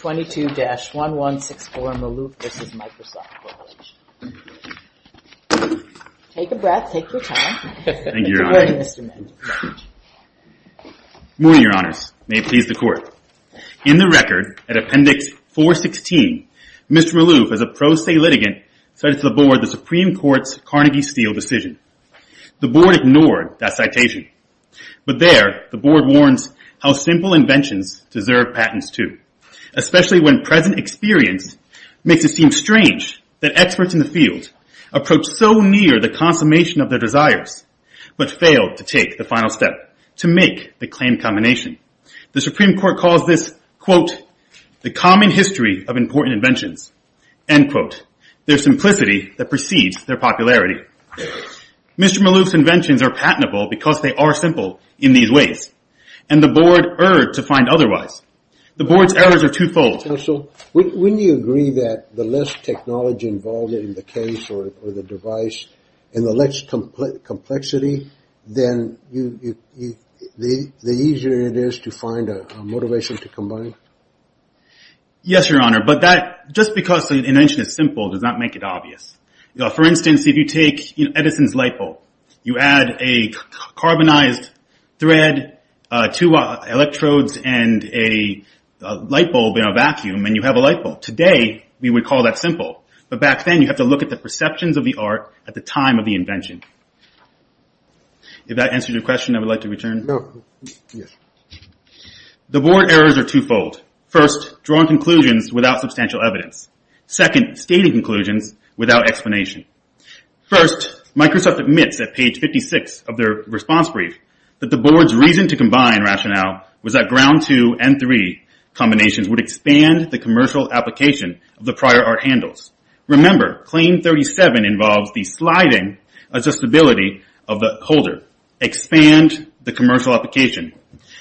22-1164 Maalouf v. Microsoft Corporation Morning, Your Honors. May it please the Court. In the record, at Appendix 416, Mr. Maalouf, as a pro se litigant, cited to the Board the Supreme Court's Carnegie Steel decision. The Board ignored that citation. But there, the Board warns how simple inventions deserve patents too, especially when present experience makes it seem strange that experts in the field approach so near the consummation of their desires, but fail to take the final step to make the claim combination. The Supreme Court calls this, quote, the common history of important inventions, end quote, their simplicity that precedes their popularity. Mr. Maalouf's inventions are patentable because they are simple in these ways, and the Board erred to find otherwise. The Board's errors are twofold. Counsel, wouldn't you agree that the less technology involved in the case or the device and the less complexity, then the easier it is to find a motivation to combine? Yes, Your Honor, but that just because an invention is simple does not make it obvious. For instance, if you take Edison's light bulb, you add a carbonized thread, two electrodes, and a light bulb in a vacuum, and you have a light bulb. Today, we would call that simple. But back then, you have to look at the perceptions of the art at the time of the invention. If that answers your question, I would like to return. No, yes. The Board errors are twofold. First, drawing conclusions without substantial evidence. Second, stating conclusions without explanation. First, Microsoft admits at page 56 of their response brief that the Board's reason to combine rationale was that ground two and three combinations would expand the commercial application of the prior art handles. Remember, claim 37 involves the sliding adjustability of the holder. Expand the commercial application.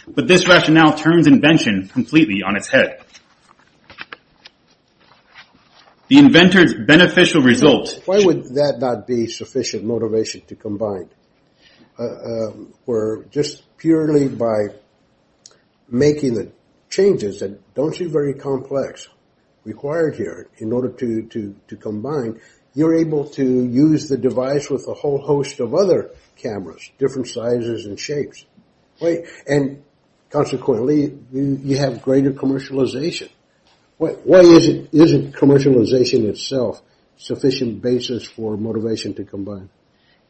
But this rationale turns invention completely on its head. The inventor's beneficial result... Why would that not be sufficient motivation to combine? Where just purely by making the changes that don't seem very complex required here in order to combine, you're able to use the device with a whole host of other cameras, different sizes and shapes. And consequently, you have greater commercialization. Why isn't commercialization itself sufficient basis for motivation to combine?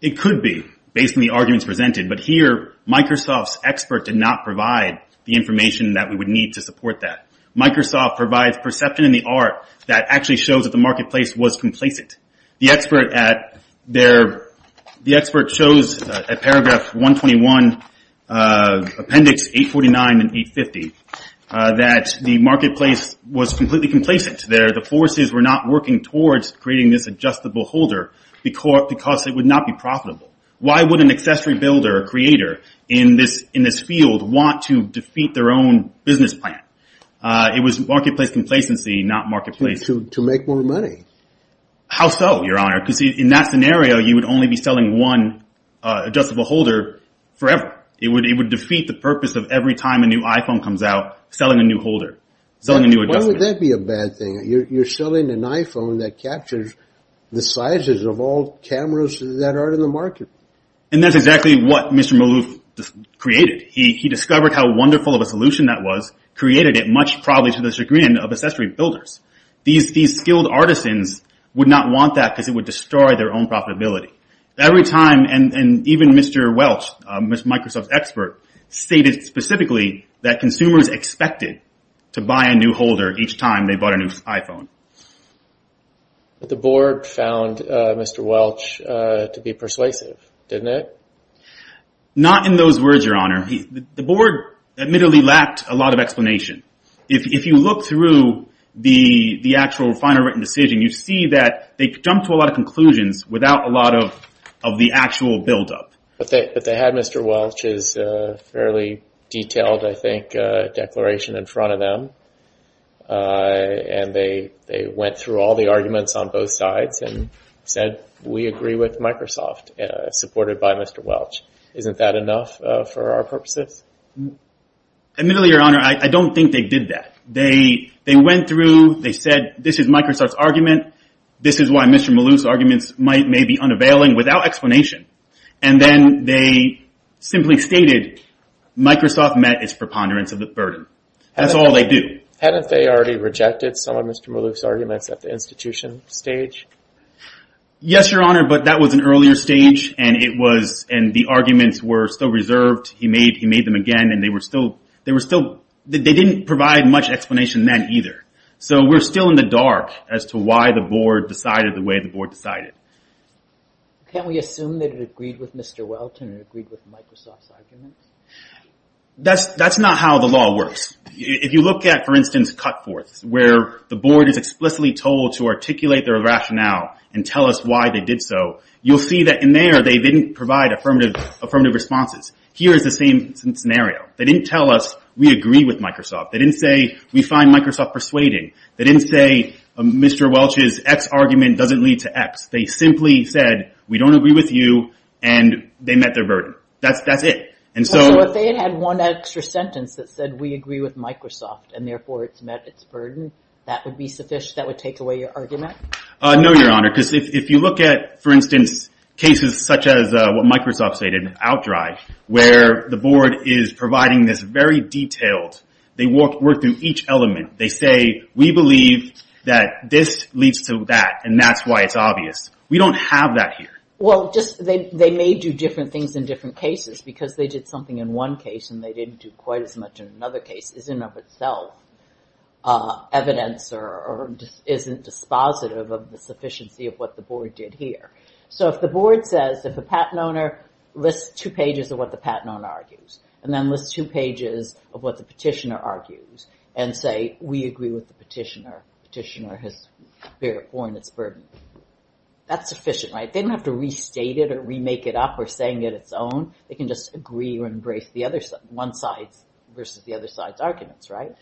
It could be, based on the arguments presented. But here, Microsoft's expert did not provide the information that we would need to support that. Microsoft provides perception in the art that actually shows that the marketplace was complacent. The expert shows at paragraph 121, appendix 849 and 850, that the marketplace was completely complacent. The forces were not working towards creating this adjustable holder because it would not be profitable. Why would an accessory builder or creator in this field want to defeat their own business plan? It was marketplace complacency, not marketplace... To make more money. How so, your honor? Because in that scenario, you would only be selling one adjustable holder forever. It would defeat the purpose of every time a new iPhone comes out, selling a new holder, selling a new adjustment. Why would that be a bad thing? You're selling an iPhone that captures the sizes of all cameras that are in the market. And that's exactly what Mr. Maloof created. He discovered how wonderful of a solution that was, created it much probably to the chagrin of accessory builders. These skilled artisans would not want that because it would destroy their own profitability. Every time, and even Mr. Welch, Mr. Microsoft's expert, stated specifically that consumers expected to buy a new holder each time they bought a new iPhone. The board found Mr. Welch to be persuasive, didn't it? Not in those words, your honor. The board admittedly lacked a lot of explanation. If you look through the actual final written decision, you see that they jumped to a lot of conclusions without a lot of the actual buildup. But they had Mr. Welch's fairly detailed, I think, declaration in front of them. And they went through all the arguments on both sides and said, we agree with Microsoft, supported by Mr. Welch. Isn't that enough for our purposes? Admittedly, your honor, I don't think they did that. They went through, they said, this is Microsoft's argument. This is why Mr. Maloof's arguments may be unavailing without explanation. And then they simply stated, Microsoft met its preponderance of the burden. That's all they do. Hadn't they already rejected some of Mr. Maloof's arguments at the institution stage? Yes, your honor, but that was an earlier stage and the arguments were still reserved. He made them again and they didn't provide much explanation then either. So we're still in the dark as to why the board decided the way the board decided. Can't we assume that it agreed with Mr. Welch and it agreed with Microsoft's arguments? That's not how the law works. If you look at, for instance, Cutforth, where the board is explicitly told to articulate their rationale and tell us why they did so, you'll see that in there they didn't provide affirmative responses. Here is the same scenario. They didn't tell us, we agree with Microsoft. They didn't say, we find Microsoft persuading. They didn't say, Mr. Welch's X argument doesn't lead to X. They simply said, we don't agree with you, and they met their burden. That's it. And so if they had had one extra sentence that said, we agree with Microsoft, and therefore it's met its burden, that would be sufficient, that would take away your argument? No, your honor, because if you look at, for instance, cases such as what Microsoft stated, OutDrive, where the board is providing this very detailed, they work through each element. They say, we believe that this leads to that, and that's why it's obvious. We don't have that here. Well, they may do different things in different cases, because they did something in one case and they didn't do quite as much in another case, isn't of itself evidence or isn't dispositive of the sufficiency of what the board did here. So if the board says, if a patent owner lists two pages of what the patent owner argues, and then lists two pages of what the petitioner argues, and say, we agree with the petitioner, petitioner has borne its burden, that's sufficient, right? They don't have to restate it or remake it up or saying it its own. They can just agree or embrace the other one side's versus the other side's arguments, right?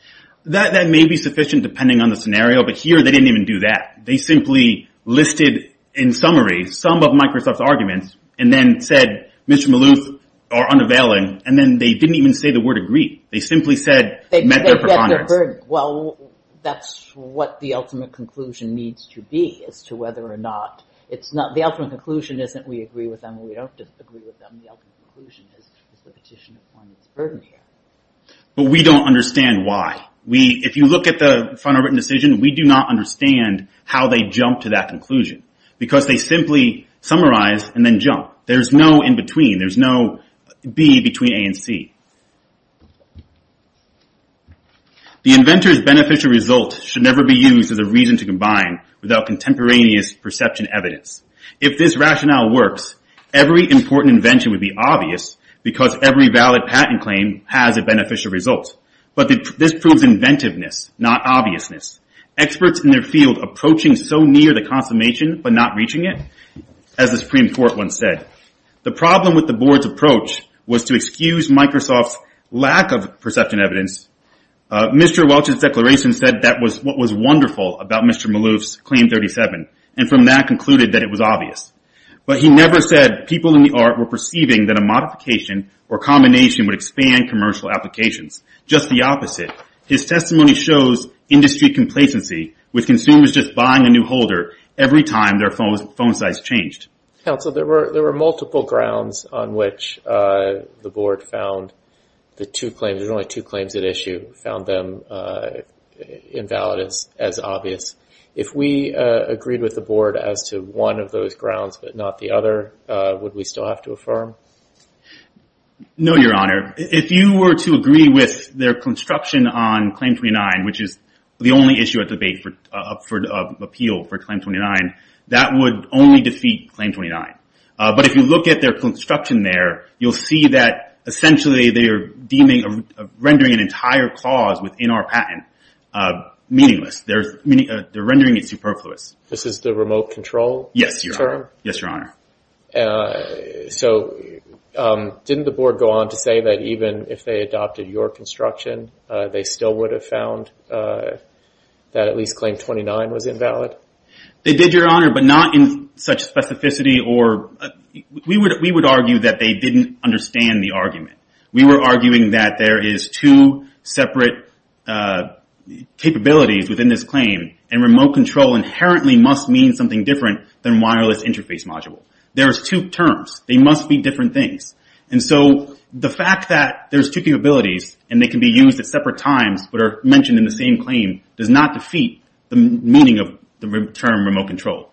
That may be sufficient depending on the scenario, but here they didn't even do that. They simply listed, in summary, some of Microsoft's arguments, and then said, Mr. Maloof, or unavailing, and then they didn't even say the word agree. They simply said, met their preponderance. Well, that's what the ultimate conclusion needs to be as to whether or not... The ultimate conclusion isn't we agree with them or we don't agree with them. The ultimate conclusion is the petitioner has borne its burden here. But we don't understand why. If you look at the final written decision, we do not understand how they jump to that conclusion, because they simply summarize and then jump. There's no in between. There's no B between A and C. The inventor's beneficial result should never be used as a reason to combine without contemporaneous perception evidence. If this rationale works, every important invention would be obvious because every valid patent claim has a beneficial result. But this proves inventiveness, not obviousness. Experts in their field approaching so near the consummation but not reaching it, as the Supreme Court once said. The problem with the board's approach was to excuse Microsoft's lack of perception evidence. Mr. Welch's declaration said that was what was wonderful about Mr. Maloof's Claim 37, and from that concluded that it was obvious. But he never said people in the art were perceiving that a modification or combination would expand commercial applications. Just the opposite. His testimony shows industry complacency, with consumers just buying a new holder every time their phone size changed. Council, there were multiple grounds on which the board found the two claims, there were only two claims at issue, found them invalid as obvious. If we agreed with the board as to one of those grounds but not the other, would we still have to affirm? No, Your Honor. If you were to agree with their construction on Claim 29, which is the only issue at debate for appeal for Claim 29, that would only defeat Claim 29. But if you look at their construction there, you'll see that essentially they are rendering an entire clause within our patent meaningless. They're rendering it superfluous. This is the remote control term? Yes, Your Honor. So didn't the board go on to say that even if they adopted your construction, they still would have found that at least Claim 29 was invalid? They did, Your Honor, but not in such specificity. We would argue that they didn't understand the argument. We were arguing that there is two separate capabilities within this claim, and remote control inherently must mean something different than wireless interface module. There's two terms. They must be different things. And so the fact that there's two capabilities and they can be used at separate times but are mentioned in the same claim does not defeat the meaning of the term remote control.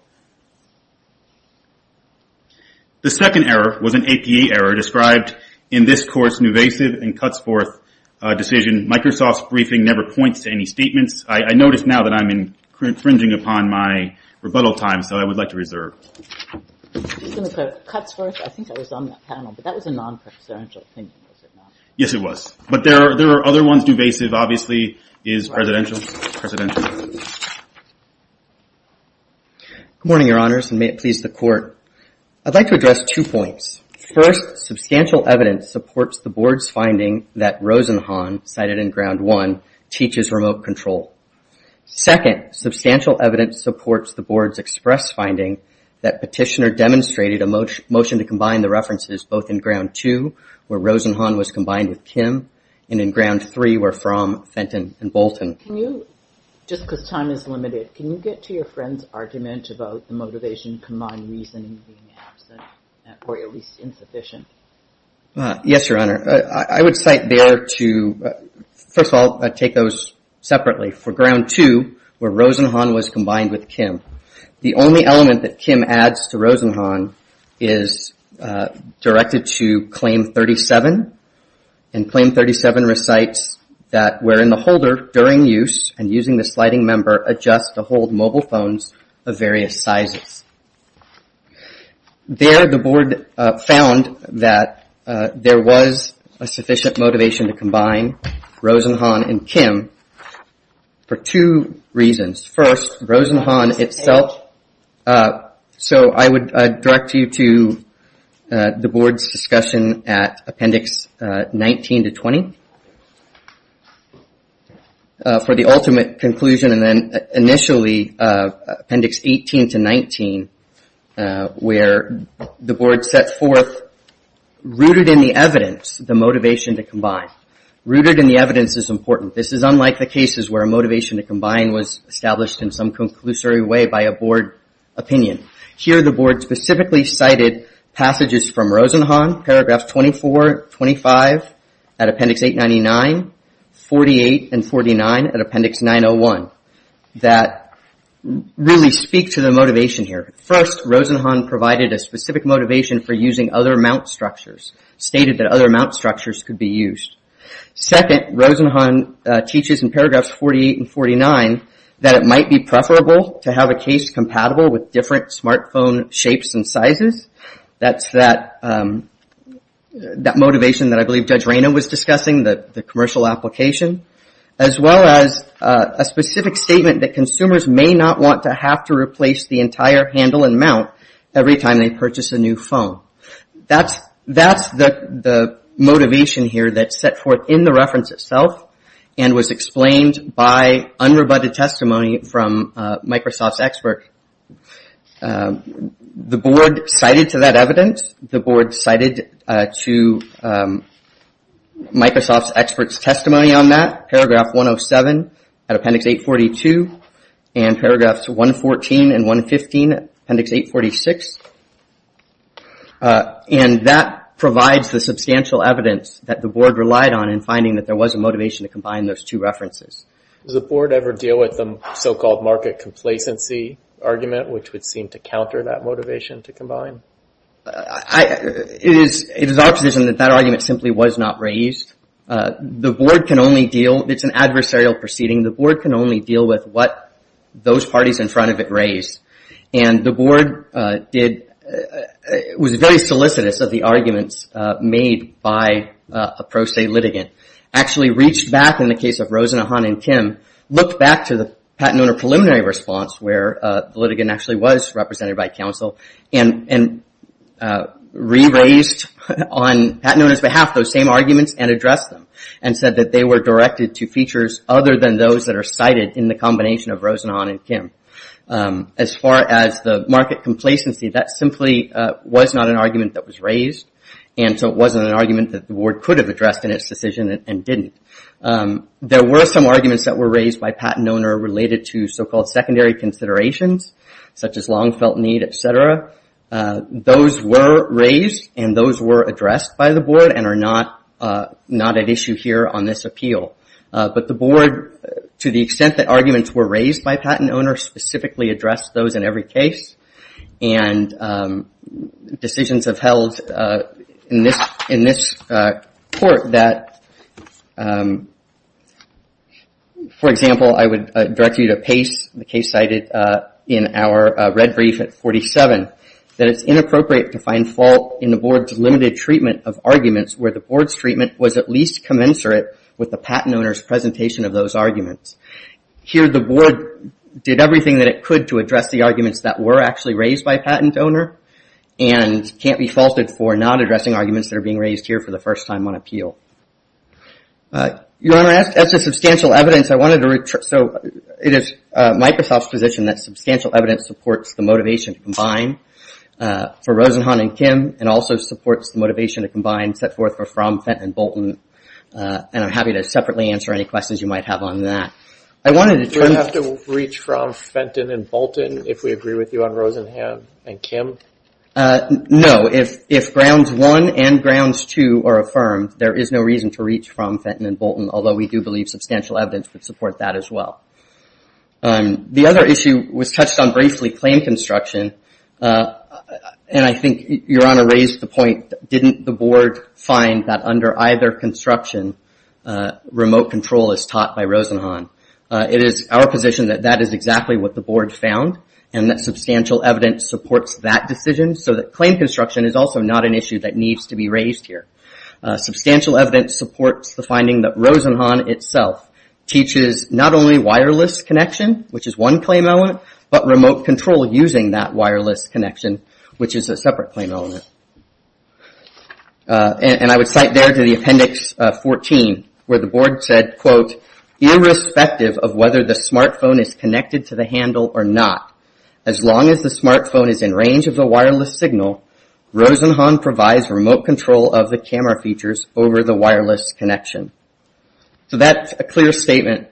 The second error was an APA error described in this court's nuvasive and cuts forth decision. Microsoft's briefing never points to any statements. I notice now that I'm infringing upon my rebuttal time, so I would like to reserve. Cuts forth? I think I was on that panel, but that was a non-presidential opinion, was it not? Yes, it was. But there are other ones. Nuvasive, obviously, is presidential. Good morning, Your Honors, and may it please the Court. I'd like to address two points. First, substantial evidence supports the board's finding that Rosenhan, cited in Ground 1, teaches remote control. Second, substantial evidence supports the board's express finding that Petitioner demonstrated a motion to combine the references both in Ground 2, where Rosenhan was combined with Kim, and in Ground 3, where Fromm, Fenton, and Bolton. Can you, just because time is limited, can you get to your friend's argument about the motivation combined reasoning being absent, or at least insufficient? Yes, Your Honor. I would cite there to, first of all, take those separately. For Ground 2, where Rosenhan was combined with Kim, the only element that Kim adds to Rosenhan is directed to Claim 37. And Claim 37 recites that, wherein the holder, during use, and using the sliding member, adjusts to hold mobile phones of various sizes. There, the board found that there was a sufficient motivation to combine Rosenhan and Kim for two reasons. First, Rosenhan itself... So, I would direct you to the board's discussion at Appendix 19 to 20 for the ultimate conclusion. And then, initially, Appendix 18 to 19, where the board set forth, rooted in the evidence, the motivation to combine. Rooted in the evidence is important. This is unlike the cases where a motivation to combine was established in some conclusory way by a board opinion. Here, the board specifically cited passages from Rosenhan, paragraphs 24, 25, at Appendix 899, 48, and 49 at Appendix 901, that really speak to the motivation here. First, Rosenhan provided a specific motivation for using other mount structures. Stated that other mount structures could be used. Second, Rosenhan teaches in paragraphs 48 and 49 that it might be preferable to have a case compatible with different smartphone shapes and sizes. That's that motivation that I believe Judge Reyna was discussing, the commercial application. As well as a specific statement that consumers may not want to have to replace the entire handle and mount every time they purchase a new phone. That's the motivation here that's set forth in the reference itself and was explained by unrebutted testimony from Microsoft's expert. The board cited to that evidence. The board cited to Microsoft's expert's testimony on that. Paragraph 107 at Appendix 842 and paragraphs 114 and 115 at Appendix 846. That provides the substantial evidence that the board relied on in finding that there was a motivation to combine those two references. Does the board ever deal with the so-called market complacency argument which would seem to counter that motivation to combine? It is our position that that argument simply was not raised. The board can only deal, it's an adversarial proceeding. The board can only deal with what those parties in front of it raised. The board was very solicitous of the arguments made by a pro se litigant. Actually reached back in the case of Rosenhan and Kim, looked back to the patent owner preliminary response where the litigant actually was represented by counsel and re-raised on patent owner's behalf those same arguments and addressed them and said that they were directed to features other than those that are cited in the combination of Rosenhan and Kim. As far as the market complacency, that simply was not an argument that was raised and so it wasn't an argument that the board could have addressed in its decision and didn't. There were some arguments that were raised by patent owner related to so-called secondary considerations such as long felt need, etc. Those were raised and those were addressed by the board and are not an issue here on this appeal. But the board, to the extent that arguments were raised by patent owner, specifically addressed those in every case and decisions have held in this court that, for example, I would direct you to Pace, the case cited in our red brief at 47, that it's inappropriate to find fault in the board's limited treatment of arguments where the board's treatment was at least commensurate with the patent owner's presentation of those arguments. Here, the board did everything that it could to address the arguments that were actually raised by patent owner and can't be faulted for not addressing arguments that are being raised here for the first time on appeal. Your Honor, as to substantial evidence, I wanted to... So it is Microsoft's position that substantial evidence supports the motivation to combine for Rosenhan and Kim and also supports the motivation to combine set forth for Fromm, Fenton, and Bolton and I'm happy to separately answer any questions you might have on that. Do we have to reach from Fenton and Bolton if we agree with you on Rosenhan and Kim? No, if grounds one and grounds two are affirmed, there is no reason to reach from Fenton and Bolton, although we do believe substantial evidence would support that as well. The other issue was touched on briefly, claim construction and I think Your Honor raised the point, didn't the board find that under either construction, remote control is taught by Rosenhan? It is our position that that is exactly what the board found and that substantial evidence supports that decision so that claim construction is also not an issue that needs to be raised here. Substantial evidence supports the finding that Rosenhan itself teaches not only wireless connection, which is one claim element, but remote control using that wireless connection, which is a separate claim element. And I would cite there to the appendix 14, where the board said, quote, irrespective of whether the smartphone is connected to the handle or not, as long as the smartphone is in range of the wireless signal, Rosenhan provides remote control of the camera features over the wireless connection. So that's a clear statement.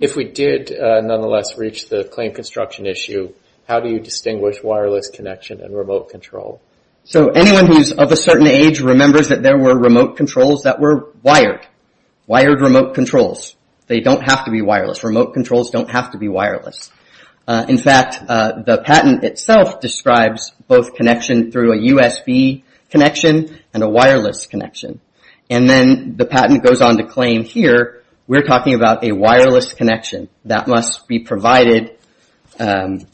If we did nonetheless reach the claim construction issue, how do you distinguish wireless connection and remote control? So anyone who's of a certain age remembers that there were remote controls that were wired. Wired remote controls. They don't have to be wireless. Remote controls don't have to be wireless. In fact, the patent itself describes both connection through a USB connection and a wireless connection. And then the patent goes on to claim here, we're talking about a wireless connection that must be provided. And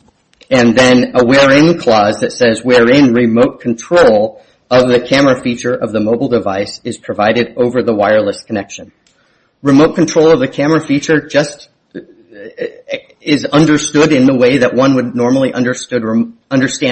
then a wherein clause that says, wherein remote control of the camera feature of the mobile device is provided over the wireless connection. Remote control of the camera feature just is understood in the way that one would normally understand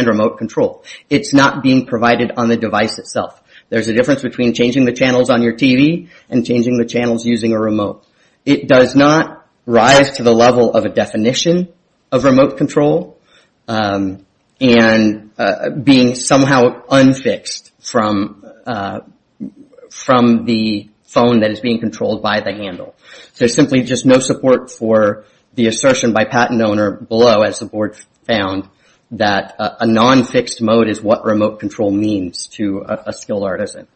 remote control. It's not being provided on the device itself. There's a difference between changing the channels on your TV and changing the channels using a remote. It does not rise to the level of a definition of remote control and being somehow unfixed from the phone that is being controlled by the handle. There's simply just no support for the assertion by patent owner below, as the board found, that a non-fixed mode is what remote control means to a skilled artisan.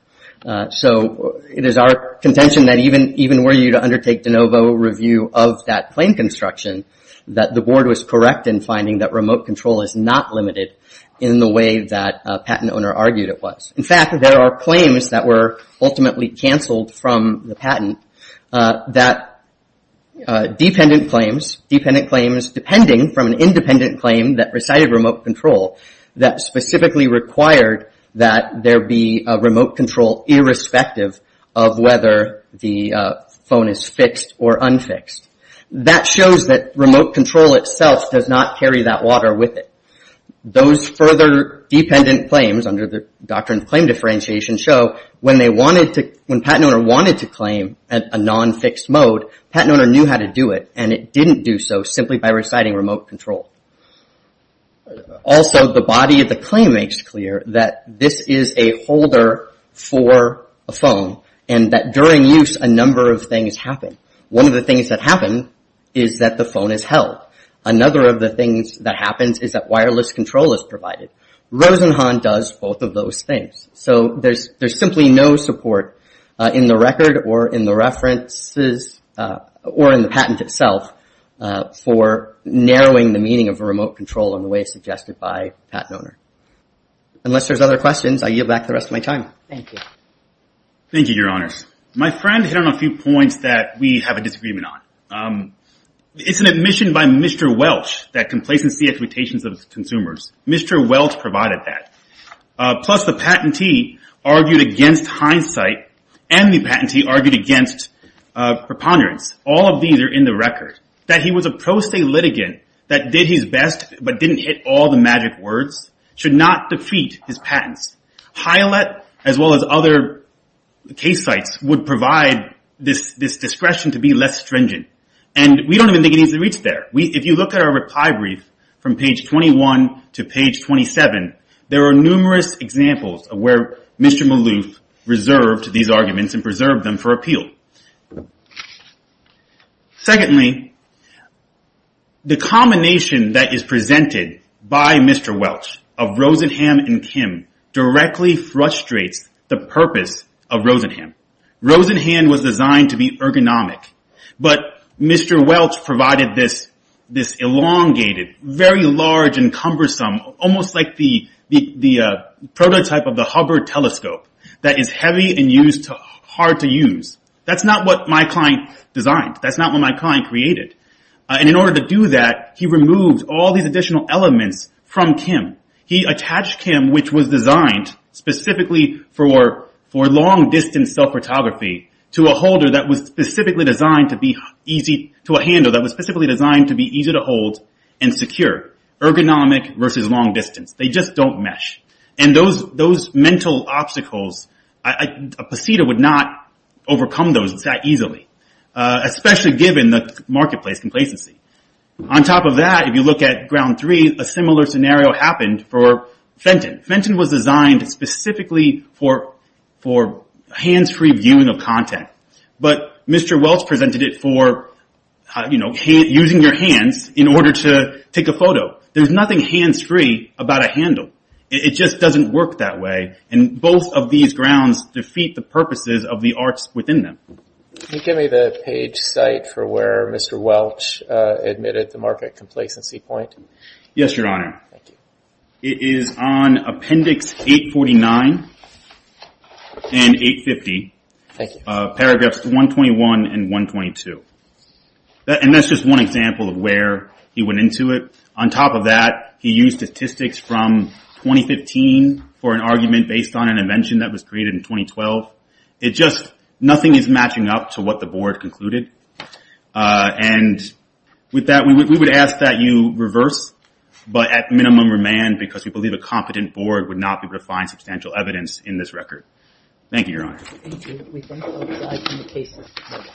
So it is our contention that even were you to undertake de novo review of that claim construction, that the board was correct in finding that remote control is not limited in the way that a patent owner argued it was. In fact, there are claims that were ultimately canceled from the patent that dependent claims, dependent claims, depending from an independent claim that recited remote control, that specifically required that there be a remote control irrespective of whether the phone is fixed or unfixed. That shows that remote control itself does not carry that water with it. Those further dependent claims under the doctrine of claim differentiation show when they wanted to, when patent owner wanted to claim a non-fixed mode, patent owner knew how to do it, and it didn't do so simply by reciting remote control. Also, the body of the claim makes clear that this is a holder for a phone and that during use a number of things happen. One of the things that happen is that the phone is held. Another of the things that happens is that wireless control is provided. Rosenhan does both of those things. So there's simply no support in the record or in the references of remote control in the way suggested by patent owner. Unless there's other questions, I yield back the rest of my time. Thank you. Thank you, your honors. My friend hit on a few points that we have a disagreement on. It's an admission by Mr. Welch that complacency expectations of consumers. Mr. Welch provided that. Plus the patentee argued against hindsight and the patentee argued against preponderance. All of these are in the record. That he was a pro se litigant that did his best, but didn't hit all the magic words should not defeat his patents. HIALET as well as other case sites would provide this discretion to be less stringent. We don't even think it needs to reach there. If you look at our reply brief from page 21 to page 27, there are numerous examples of where Mr. Maloof reserved these arguments and preserved them for appeal. Secondly, the combination that is presented by Mr. Welch of Rosenham and Kim directly frustrates the purpose of Rosenham. Rosenham was designed to be ergonomic, but Mr. Welch provided this elongated, very large and cumbersome, almost like the prototype of the Hubbard telescope that is heavy and hard to use. That's not what my client designed. That's not what my client created. In order to do that, he removed all these additional elements from Kim. He attached Kim, which was designed specifically for long distance cell photography, to a holder that was specifically designed to be easy to handle, that was specifically designed to be easy to hold and secure. Ergonomic versus long distance. They just don't mesh. Those mental obstacles, a Posita would not overcome those that easily, especially given the marketplace complacency. On top of that, if you look at ground three, a similar scenario happened for Fenton. Fenton was designed specifically for hands-free viewing of content, but Mr. Welch presented it for using your hands in order to take a photo. There's nothing hands-free about a handle. It just doesn't work that way. Both of these grounds defeat the purposes of the arts within them. Can you give me the page site for where Mr. Welch admitted the market complacency point? Yes, your honor. It is on appendix 849 and 850, paragraphs 121 and 122. That's just one example of where he went into it. On top of that, he used statistics from 2015 for an argument based on an invention that was created in 2012. Nothing is matching up to what the board concluded. We would ask that you reverse, but at minimum, remand because we believe a competent board would not be able to find substantial evidence in this record. Thank you, your honor. Thank you.